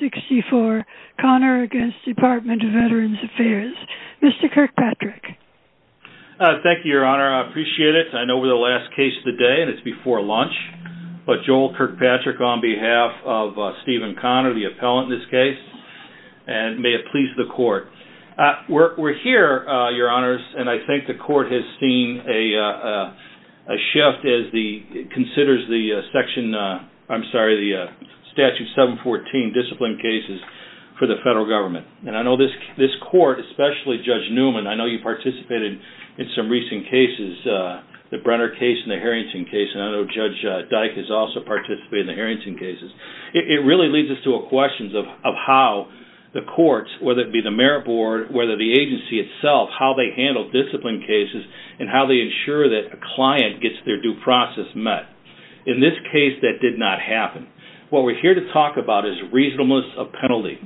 64 Connor against Department of Veterans Affairs. Mr. Kirkpatrick. Thank you, your honor. I appreciate it. I know we're the last case of the day and it's before lunch, but Joel Kirkpatrick on behalf of Stephen Connor, the appellant in this case, and may it please the court. We're here, your honors, and I think the court has seen a shift as the considers the section, I'm sorry, the statute 714 discipline cases for the federal government. And I know this this court, especially Judge Newman, I know you participated in some recent cases, the Brenner case and the Harrington case, and I know Judge Dyke has also participated in the Harrington cases. It really leads us to a question of how the courts, whether it be the Merit Board, whether the agency itself, how they handle discipline cases and how they ensure that a client gets their due process met. In this case, that did not happen. What we're here to talk about is reasonableness of penalty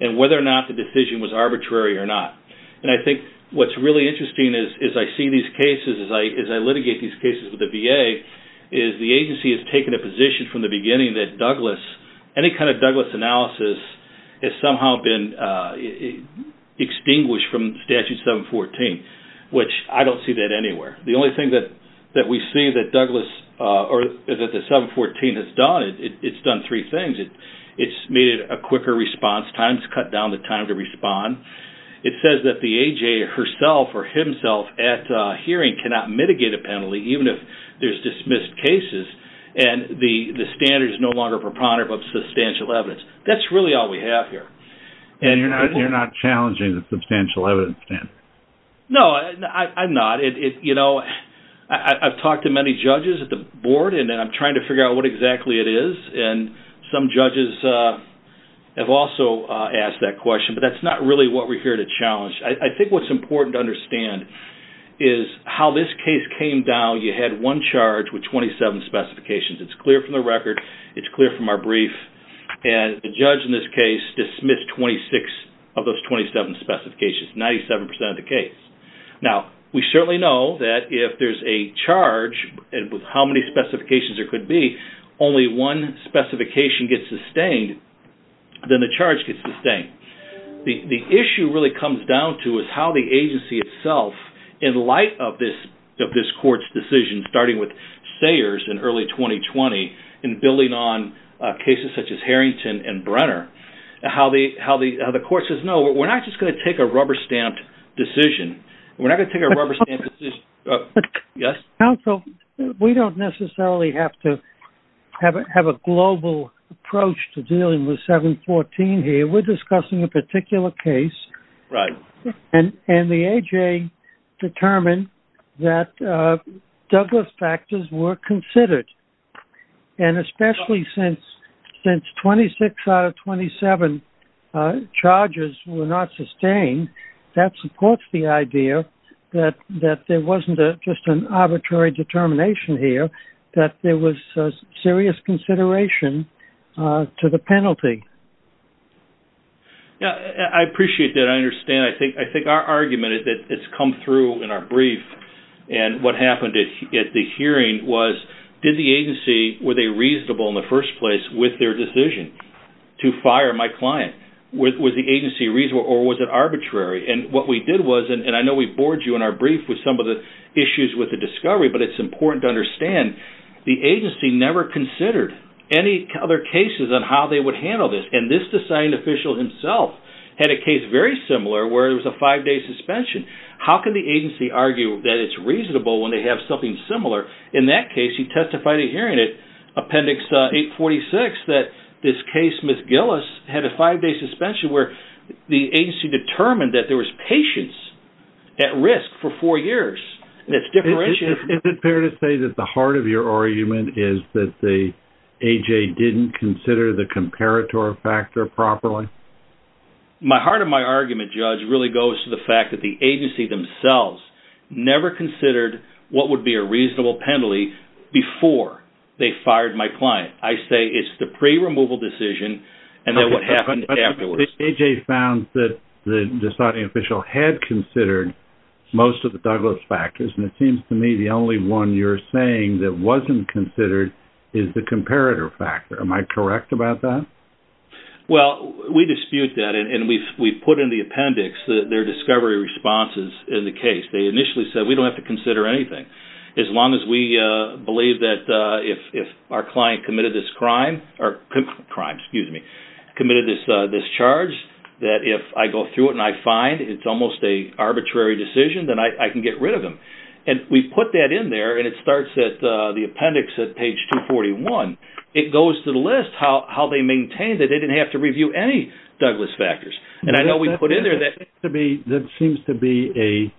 and whether or not the decision was arbitrary or not. And I think what's really interesting as I see these cases, as I litigate these cases with the VA, is the agency has taken a position from the beginning that Douglas, any kind of Douglas analysis, has somehow been extinguished from statute 714, which I don't see that anywhere. The only thing that that we see that Douglas or that the 714 has done, it's done three things. It's made it a quicker response, times cut down the time to respond. It says that the AJ herself or himself at hearing cannot mitigate a penalty even if there's dismissed cases and the standard is no longer preponderant but substantial evidence. That's really all we have here. And you're not challenging the substantial evidence, Dan? No, I'm not. You know, I've talked to many judges at the board and I'm trying to figure out what exactly it is and some judges have also asked that question, but that's not really what we're here to challenge. I think what's important to understand is how this case came down. You had one charge with 27 specifications. It's clear from the record. It's clear from our brief. And the 97% of the case. Now, we certainly know that if there's a charge and with how many specifications there could be, only one specification gets sustained, then the charge gets sustained. The issue really comes down to is how the agency itself, in light of this of this court's decision starting with Sayers in early 2020 and building on cases such as Harrington and Brenner, how the court says, no, we're not just going to take a rubber-stamped decision. We're not going to take a rubber-stamped decision. Yes? Counsel, we don't necessarily have to have a global approach to dealing with 714 here. We're discussing a particular case. Right. And the AJ determined that Douglas factors were considered. And especially since 26 out of 27 charges were not sustained, that supports the idea that there wasn't just an arbitrary determination here, that there was serious consideration to the penalty. Yeah, I appreciate that. I understand. I think our argument is that it's come through in our brief. And what with their decision to fire my client? Was the agency reasonable or was it arbitrary? And what we did was, and I know we bored you in our brief with some of the issues with the discovery, but it's important to understand, the agency never considered any other cases on how they would handle this. And this assigned official himself had a case very similar where it was a five-day suspension. How can the agency argue that it's reasonable when they have something similar? In that case, he testified in hearing it, Appendix 846, that this case, Ms. Gillis, had a five-day suspension where the agency determined that there was patience at risk for four years. It's different. Is it fair to say that the heart of your argument is that the AJ didn't consider the comparator factor properly? My heart of my argument, Judge, really goes to the fact that the agency themselves never considered what would be a reasonable penalty before they fired my client. I say it's the pre-removal decision and then what happened afterwards. AJ found that the deciding official had considered most of the Douglas factors, and it seems to me the only one you're saying that wasn't considered is the comparator factor. Am I correct about that? Well, we dispute that and we've put in the appendix their discovery responses in the case. They initially said we don't have to consider anything as long as we believe that if our client committed this crime, committed this charge, that if I go through it and I find it's almost a arbitrary decision, then I can get rid of them. And we put that in there and it starts at the appendix at page 241. It goes to the list how they maintained that they didn't have to review any Douglas factors. And I know we put in there that seems to be a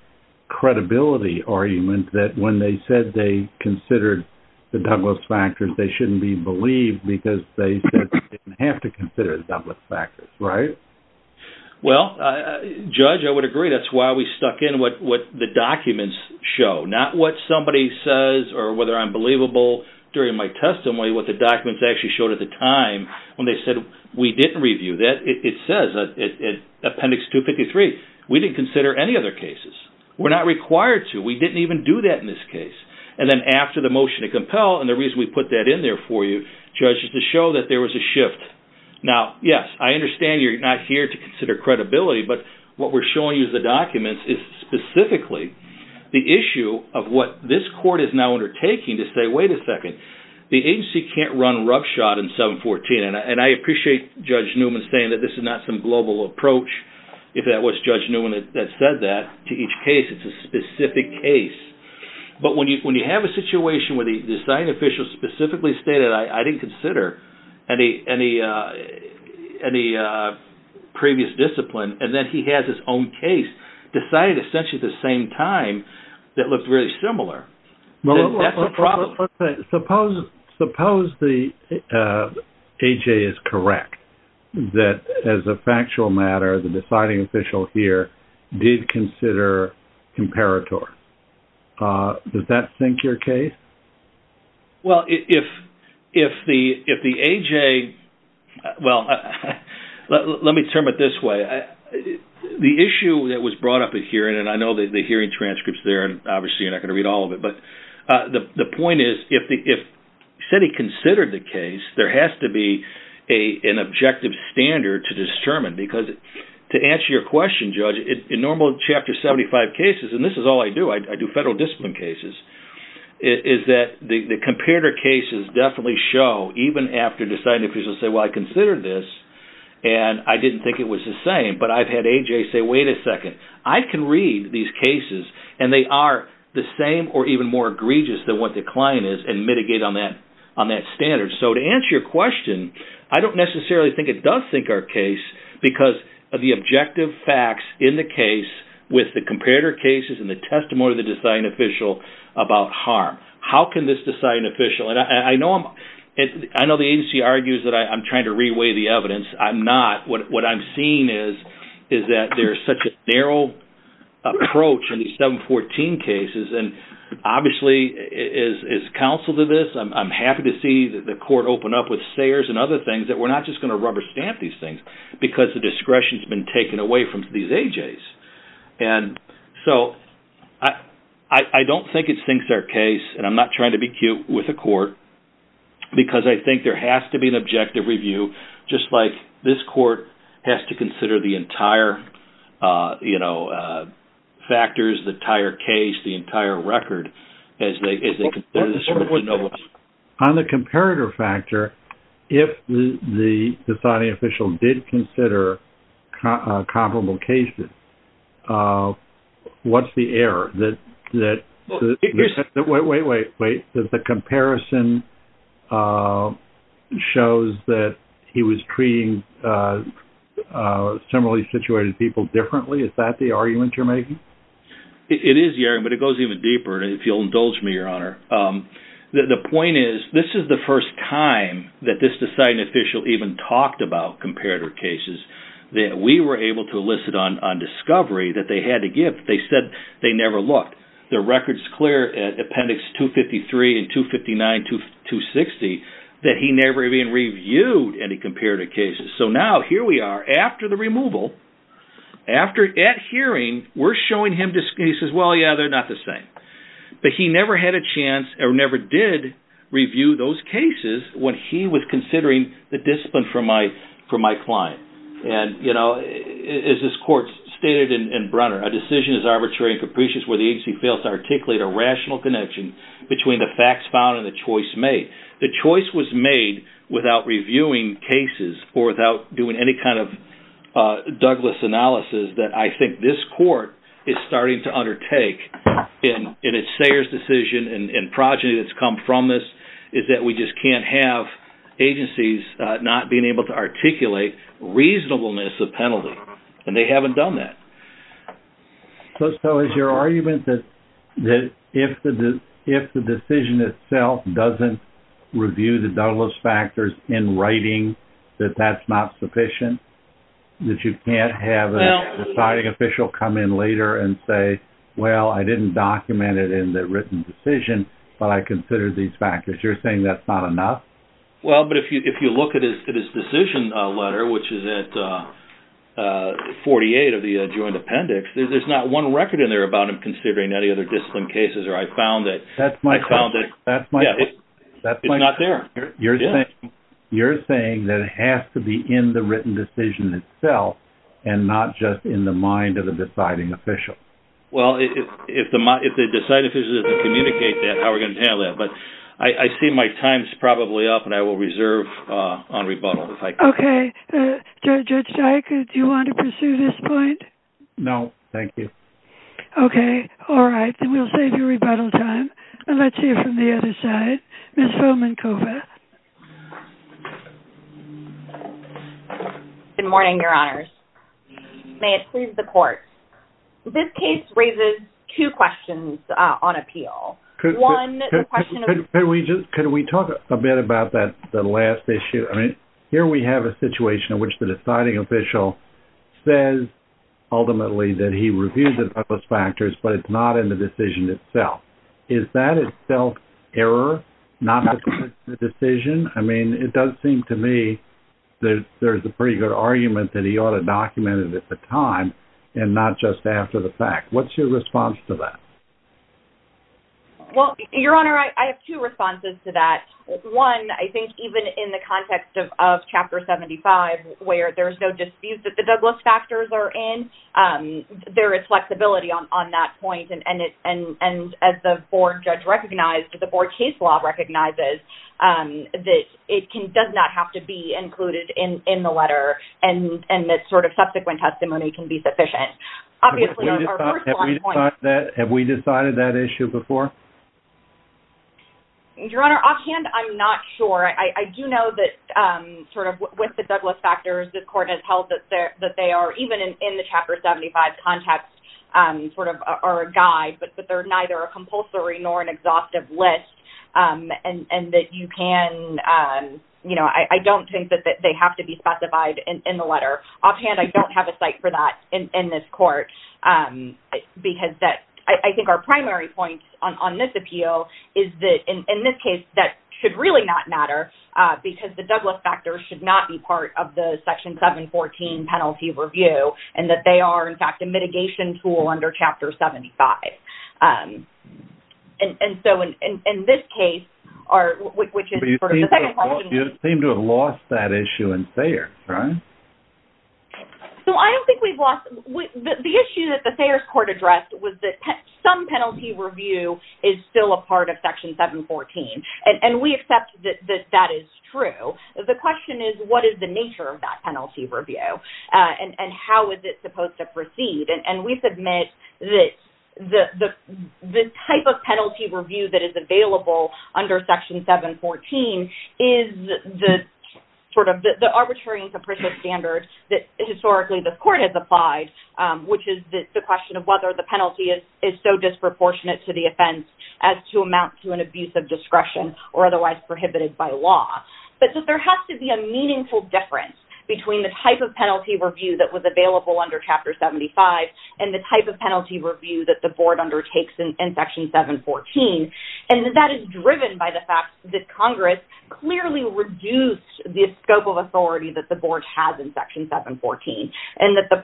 credibility argument that when they said they considered the Douglas factors, they shouldn't be believed because they didn't have to consider the Douglas factors, right? Well, Judge, I would agree. That's why we stuck in what the documents show, not what somebody says or whether I'm believable during my testimony, what the didn't review. It says in appendix 253, we didn't consider any other cases. We're not required to. We didn't even do that in this case. And then after the motion to compel and the reason we put that in there for you, Judge, is to show that there was a shift. Now, yes, I understand you're not here to consider credibility, but what we're showing you the documents is specifically the issue of what this court is now undertaking to say, wait a second, the agency can't run roughshod in I appreciate Judge Newman saying that this is not some global approach. If that was Judge Newman that said that to each case, it's a specific case. But when you when you have a situation where the design official specifically stated, I didn't consider any any any previous discipline and then he has his own case decided essentially at the same time that looked really similar. Suppose suppose the AJ is correct that as a factual matter, the deciding official here did consider comparator. Does that sink your case? Well, if if the if the AJ, well, let me term it this way, the issue that was brought up at here and I know that the hearing transcripts there and obviously you're not going to read all of it, but the point is if the if said he considered the case, there has to be a an objective standard to determine because to answer your question, Judge, in normal chapter 75 cases, and this is all I do, I do federal discipline cases, is that the comparator cases definitely show even after the sign if he's gonna say, well, I considered this and I didn't think it was the same, but I've had AJ say, wait a second, I can read these cases and they are the same or even more egregious than what the client is and mitigate on that on that standard. So to answer your question, I don't necessarily think it does sink our case because of the objective facts in the case with the comparator cases and the testimony of the deciding official about harm. How can this deciding official, and I know I'm, I know the agency argues that I'm trying to reweigh the evidence. I'm not. What I'm seeing is is that there's such a and obviously is counsel to this. I'm happy to see that the court opened up with stares and other things that we're not just going to rubber stamp these things because the discretion has been taken away from these AJs and so I don't think it sinks our case and I'm not trying to be cute with the court because I think there has to be an objective review just like this court has to the entire record. On the comparator factor, if the deciding official did consider comparable cases, what's the error? That, wait, wait, wait, wait, that the comparison shows that he was treating similarly situated people differently? Is that the argument you're making? It is, but it goes even deeper. If you'll indulge me, your honor, the point is this is the first time that this deciding official even talked about comparator cases that we were able to elicit on discovery that they had to give. They said they never looked. The record's clear at appendix 253 and 259 to 260 that he never even reviewed any comparator cases. So now here we are after the removal, at hearing, we're showing him, he says, well, yeah, they're not the same, but he never had a chance or never did review those cases when he was considering the discipline for my client and, you know, as this court stated in Brunner, a decision is arbitrary and capricious where the agency fails to articulate a rational connection between the facts found and the choice made. The choice was made without reviewing cases or without doing any kind of Douglas analysis that I think this court is starting to undertake in its Sayers decision and progeny that's come from this is that we just can't have agencies not being able to articulate reasonableness of penalty and they haven't done that. So is your argument that if the decision itself doesn't review the Douglas factors in writing, that that's not sufficient? That you can't have a deciding official come in later and say, well, I didn't document it in the written decision, but I consider these factors. You're saying that's not enough? Well, but if you look at his decision letter, which is at 48 of the joint appendix, there's not one record in there about him cases or I found it. That's my, that's my, that's not there. You're saying, you're saying that it has to be in the written decision itself and not just in the mind of the deciding official? Well, if the mind, if the deciding official doesn't communicate that, how are we going to handle that? But I see my time's probably up and I will reserve on rebuttal. Okay, Judge Dyke, do you want to pursue this point? No, thank you. Okay. All right. Then we'll save your rebuttal time and let's hear from the other side. Ms. Vomankova. Good morning, your honors. May it please the court. This case raises two questions on appeal. Could we just, could we talk a bit about that the last issue? I mean, here we have a situation in which the deciding official says ultimately that he reviewed the factors, but it's not in the decision itself. Is that itself error, not the decision? I mean, it does seem to me that there's a pretty good argument that he ought to document it at the time and not just after the fact. What's your response to that? Well, your honor, I have two responses to that. One, I think even in the context of chapter 75, where there's no dispute that the Douglas factors are in, there is flexibility on that point and as the board judge recognized, the board case law recognizes that it does not have to be included in the letter and that sort of subsequent testimony can be sufficient. Have we decided that issue before? Your honor, offhand, I'm not sure. I do know that sort of with the Douglas factors, the court has held that they are, even in the chapter 75 context, sort of are a guide, but they're neither a compulsory nor an exhaustive list and that you can, you know, I don't think that they have to be specified in the letter. Offhand, I don't have a site for that in this court because that, I think our primary point on this appeal is that in this case, that should really not matter because the Douglas factors should not be part of the section 714 penalty review and that they are, in fact, a mitigation tool under chapter 75. And so, in this case, you seem to have lost that issue in Sayers, right? So, I don't think we've lost, the issue that the Sayers court addressed was that some penalty review is still a part of section 714 and we accept that that is true. The question is, what is the nature of that penalty review and how is it supposed to proceed? And we submit that the type of penalty review that is available under section 714 is the sort of the arbitrary and capricious standards that historically the court has applied, which is the question of whether the penalty is so disproportionate to the offense as to amount to an abuse of discretion or otherwise prohibited by law. But there has to be a meaningful difference between the type of penalty review that was available under chapter 75 and the type of penalty review that the board undertakes in section 714. And that is driven by the fact that Congress clearly reduced the scope of authority that the board has in section 714 and that the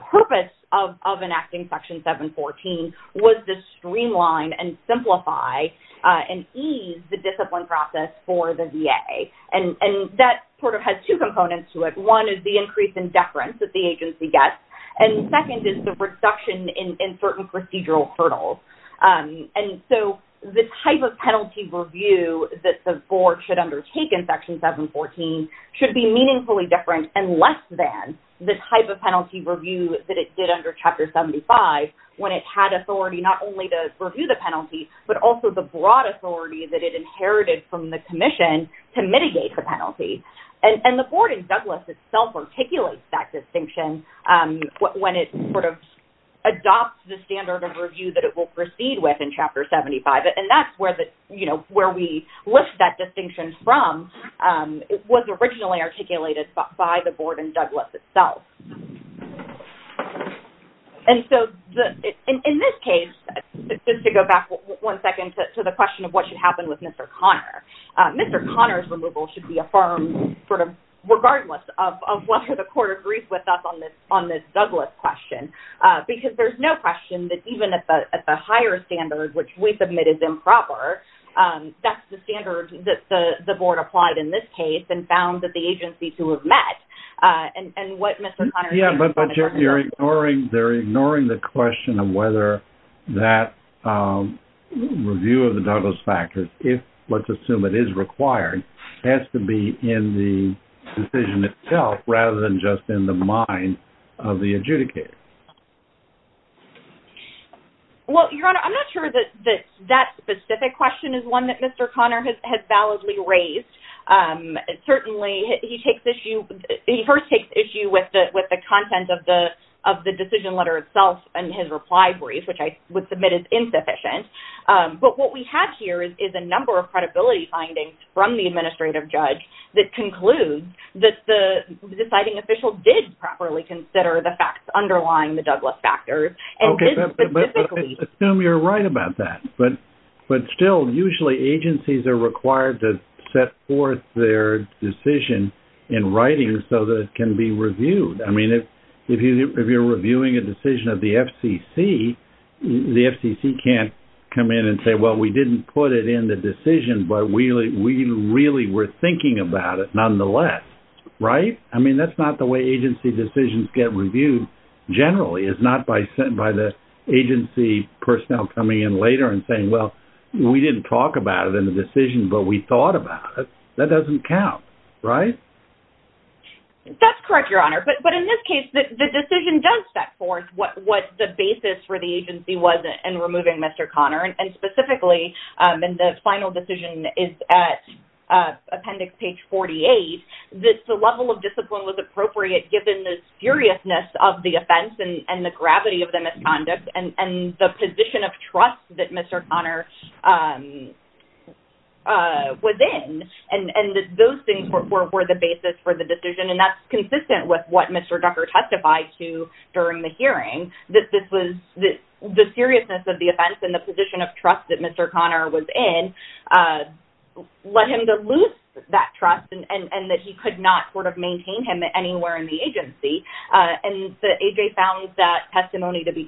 board has to try and ease the discipline process for the VA. And that sort of has two components to it. One is the increase in deference that the agency gets and second is the reduction in certain procedural hurdles. And so, the type of penalty review that the board should undertake in section 714 should be meaningfully different and less than the type of penalty review that it did under chapter 75 when it had authority not only to review the penalty but also the broad authority that it inherited from the Commission to mitigate the penalty. And the board in Douglas itself articulates that distinction when it sort of adopts the standard of review that it will proceed with in chapter 75. And that's where the, you know, where we lift that distinction from. It was originally articulated by the board in Douglas itself. And so, in this case, just to go back one second to the question of what should happen with Mr. Conner. Mr. Conner's removal should be affirmed, sort of, regardless of whether the court agrees with us on this Douglas question. Because there's no question that even at the higher standard, which we submit is improper, that's the standard that the board applied in this case and found that the agencies who have met and what Mr. Conner... Yeah, but they're ignoring the question of whether that review of the Douglas fact, if let's assume it is required, has to be in the decision itself rather than just in the mind of the adjudicator. Well, Your Honor, I'm not sure that that specific question is one that Mr. Conner has validly raised. Certainly, he takes issue, he first takes issue with the content of the decision letter itself and his reply brief, which I would submit is insufficient. But what we have here is a number of credibility findings from the administrative judge that concludes that the deciding official did properly consider the facts underlying the Douglas factors. Okay, but let's assume you're right about that. But still, usually agencies are required to set forth their decision in writing so that it can be reviewed. I mean, if you're reviewing a decision of the FCC, the FCC can't come in and say, well, we didn't put it in the decision, but we really were thinking about it nonetheless, right? I mean, that's not the way agency decisions get reviewed generally. It's not by the agency personnel coming in later and saying, well, we didn't talk about it in the decision, but we thought about it. That doesn't count, right? That's correct, Your Honor. But in this case, the decision does set forth what the basis for the agency was in removing Mr. Conner and specifically, and the final decision is at Appendix page 48, that the level of discipline was appropriate given the furiousness of the offense and the gravity of the misconduct and the position of trust that Mr. Conner was in. And those things were the basis for the decision, and that's consistent with what Mr. Ducker testified to during the hearing, that this was the seriousness of the offense and the position of trust that Mr. Conner was in led him to lose that trust and that he could not sort of maintain him anywhere in the agency. And AJ found that testimony to be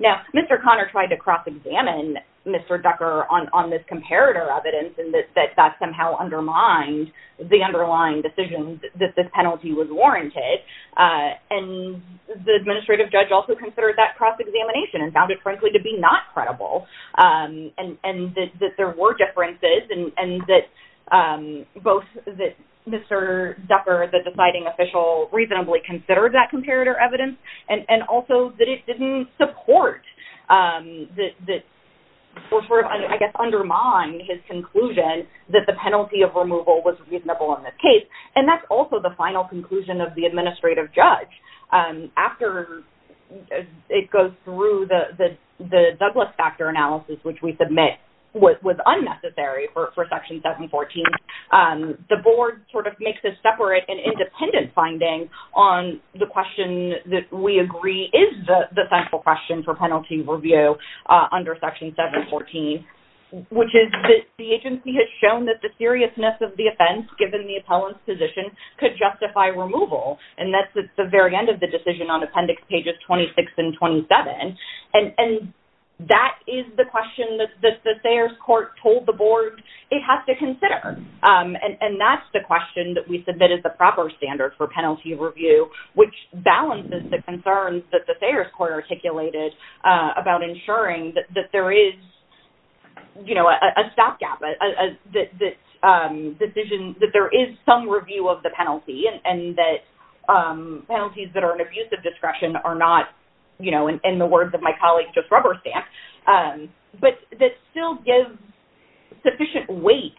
that Mr. Conner tried to cross-examine Mr. Ducker on this comparator evidence and that that somehow undermined the underlying decision that this penalty was warranted. And the administrative judge also considered that cross-examination and found it, frankly, to be not credible. And that there were differences and that both that Mr. Ducker, the deciding official, reasonably considered that comparator evidence, and also that it didn't support or, I guess, undermine his conclusion that the penalty of removal was reasonable in this case. And that's also the final conclusion of the administrative judge. After it goes through the Douglas factor analysis, which we submit was unnecessary for Section 714, the board sort of makes a separate and independent finding on the question that we agree is the central question for penalty review under Section 714, which is that the agency has shown that the seriousness of the offense, given the appellant's position, could justify removal. And that's at the very end of the decision on appendix pages 26 and 27. And that is the question that the Sayers Court told the board it has to consider. And that's the question that we submit as the proper standard for penalty review, which balances the concerns that the Sayers Court articulated about ensuring that there is, you know, a stopgap, a decision, that there is some review of the penalty, and that penalties that are an abusive discretion are not, you know, in the words of my colleague, just rubber stamps, but that still gives sufficient weight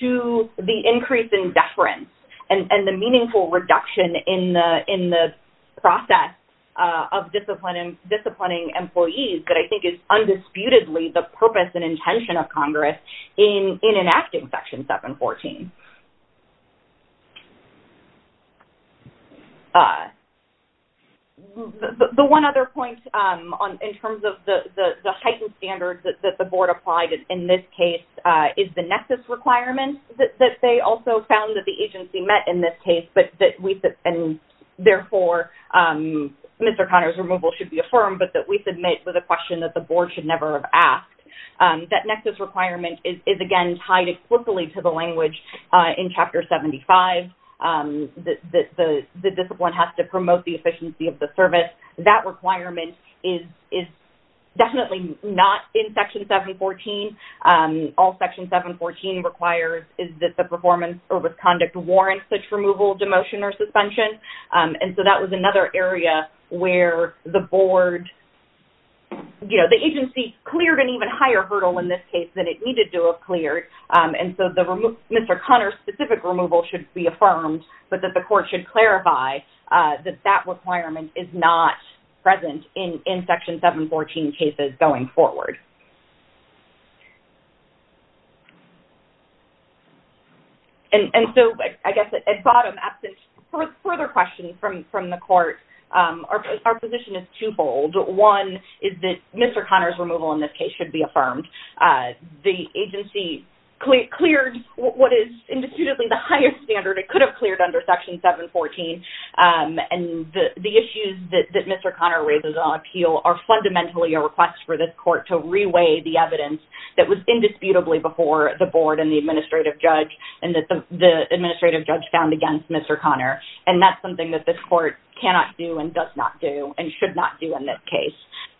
to the increase in deference and the meaningful reduction in the process of discipline disciplining employees that I think is undisputedly the purpose and intention of Congress in enacting Section 714. The one other point in terms of the heightened standards that the board applied in this case is the nexus requirement that they also found that the agency met in this case, and therefore Mr. Connor's removal should be affirmed, but that we submit with a question that the board should never have asked. That nexus requirement is, again, tied explicitly to the language in Chapter 75, that the discipline has to promote the efficiency of the service. That requirement is definitely not in Section 714. All Section 714 requires is that the performance or misconduct warrants such as the board, you know, the agency cleared an even higher hurdle in this case than it needed to have cleared, and so the Mr. Connor's specific removal should be affirmed, but that the court should clarify that that requirement is not present in Section 714 cases going forward. And so I guess at bottom, absent further questions from the court, our position is twofold. One is that Mr. Connor's removal in this case should be affirmed. The agency cleared what is indisputably the highest standard it could have cleared under Section 714, and the issues that Mr. Connor raises on appeal are fundamentally a request for this court to reweigh the evidence that was indisputably before the board and the administrative judge, and that the administrative judge found against Mr. Connor, and that's something that this court cannot do and does not do and should not do in this case.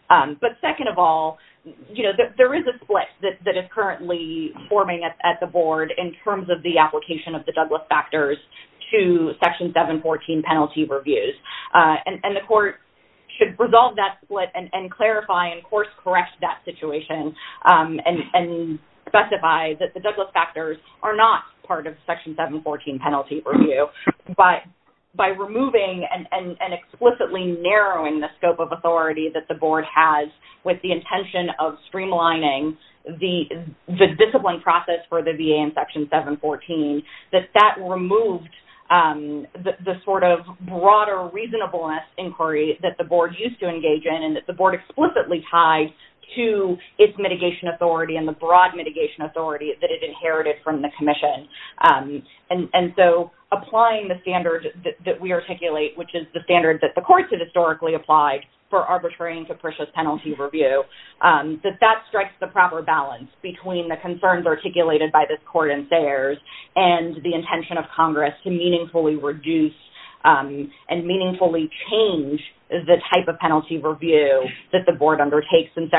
But second of all, you know, there is a split that is currently forming at the board in terms of the application of the Douglas factors to Section 714 penalty reviews, and the court should resolve that split and clarify and course correct that situation and specify that the Douglas factors are not part of the case. So I think that removing and explicitly narrowing the scope of authority that the board has with the intention of streamlining the discipline process for the VA in Section 714, that that removed the sort of broader reasonableness inquiry that the board used to engage in and that the board explicitly tied to its mitigation authority and the broad mitigation authority that it inherited from the Commission. And so applying the Douglas factors that the board used to articulate, which is the standard that the courts have historically applied for arbitrary and capricious penalty review, that that strikes the proper balance between the concerns articulated by this court and theirs and the intention of Congress to meaningfully reduce and meaningfully change the type of penalty review that the board undertakes in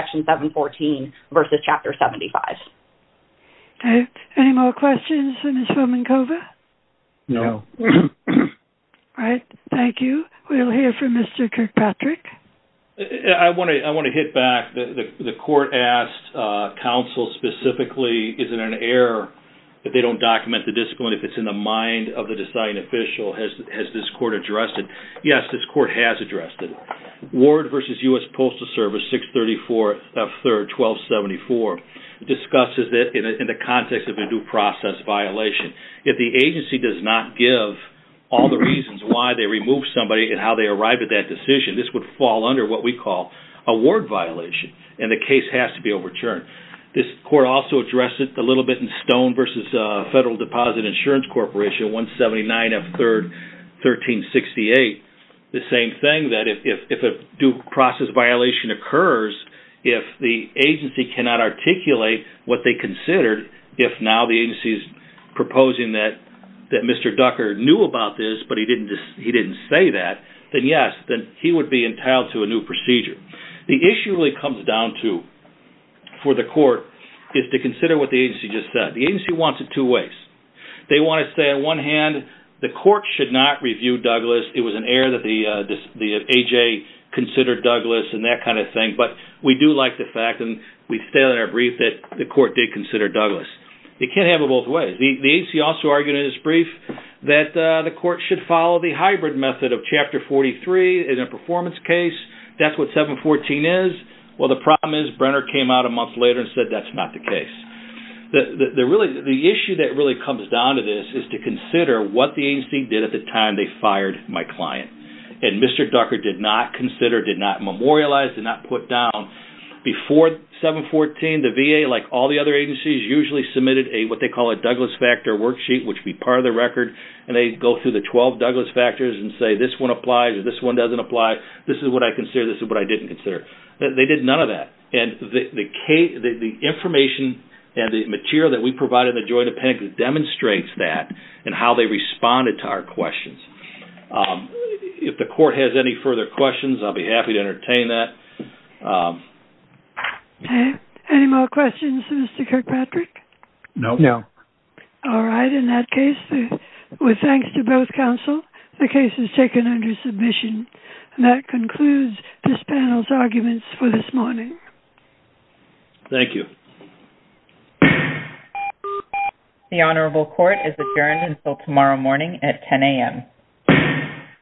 Thank you. We'll hear from Mr. Kirkpatrick. I want to hit back. The court asked counsel specifically, is it an error that they don't document the discipline if it's in the mind of the deciding official? Has this court addressed it? Yes, this court has addressed it. Ward versus U.S. Postal Service 634 F. 3rd 1274 discusses that in the context of a due process violation, if the agency does not give all the reasons why they removed somebody and how they arrived at that decision, this would fall under what we call a ward violation and the case has to be overturned. This court also addressed it a little bit in Stone versus Federal Deposit Insurance Corporation 179 F. 3rd 1368. The same thing that if a due process violation occurs, if the agency cannot articulate what they considered, if now the agency's proposing that Mr. Ducker knew about this but he didn't say that, then yes, he would be entitled to a new procedure. The issue really comes down to for the court is to consider what the agency just said. The agency wants it two ways. They want to say on one hand, the court should not review Douglas. It was an error that the A.J. considered Douglas and that kind of thing, but we do like the fact and we stated in our brief that the court did consider Douglas. It can't have it both ways. The agency also argued in its brief that the court should follow the hybrid method of Chapter 43 in a performance case. That's what 714 is. Well, the problem is Brenner came out a month later and said that's not the case. The issue that really comes down to this is to consider what the agency did at the time they fired my client and Mr. Ducker did not consider, did not memorialize, did not put down before 714. The VA, like all the other agencies, usually submitted what they call a Douglas factor worksheet, which would be part of the record, and they go through the 12 Douglas factors and say this one applies, this one doesn't apply, this is what I considered, this is what I didn't consider. They did none of that. The information and the material that we provide in the Joint Appendix demonstrates that and how they responded to our questions. If the court has any further questions, I'll be happy to entertain that. Okay, any more questions for Mr. Kirkpatrick? No. All right, in that case, with thanks to both counsel, the case is taken under submission. That concludes this panel's arguments for this morning. Thank you. The Honorable Court is adjourned until tomorrow morning at 10 a.m.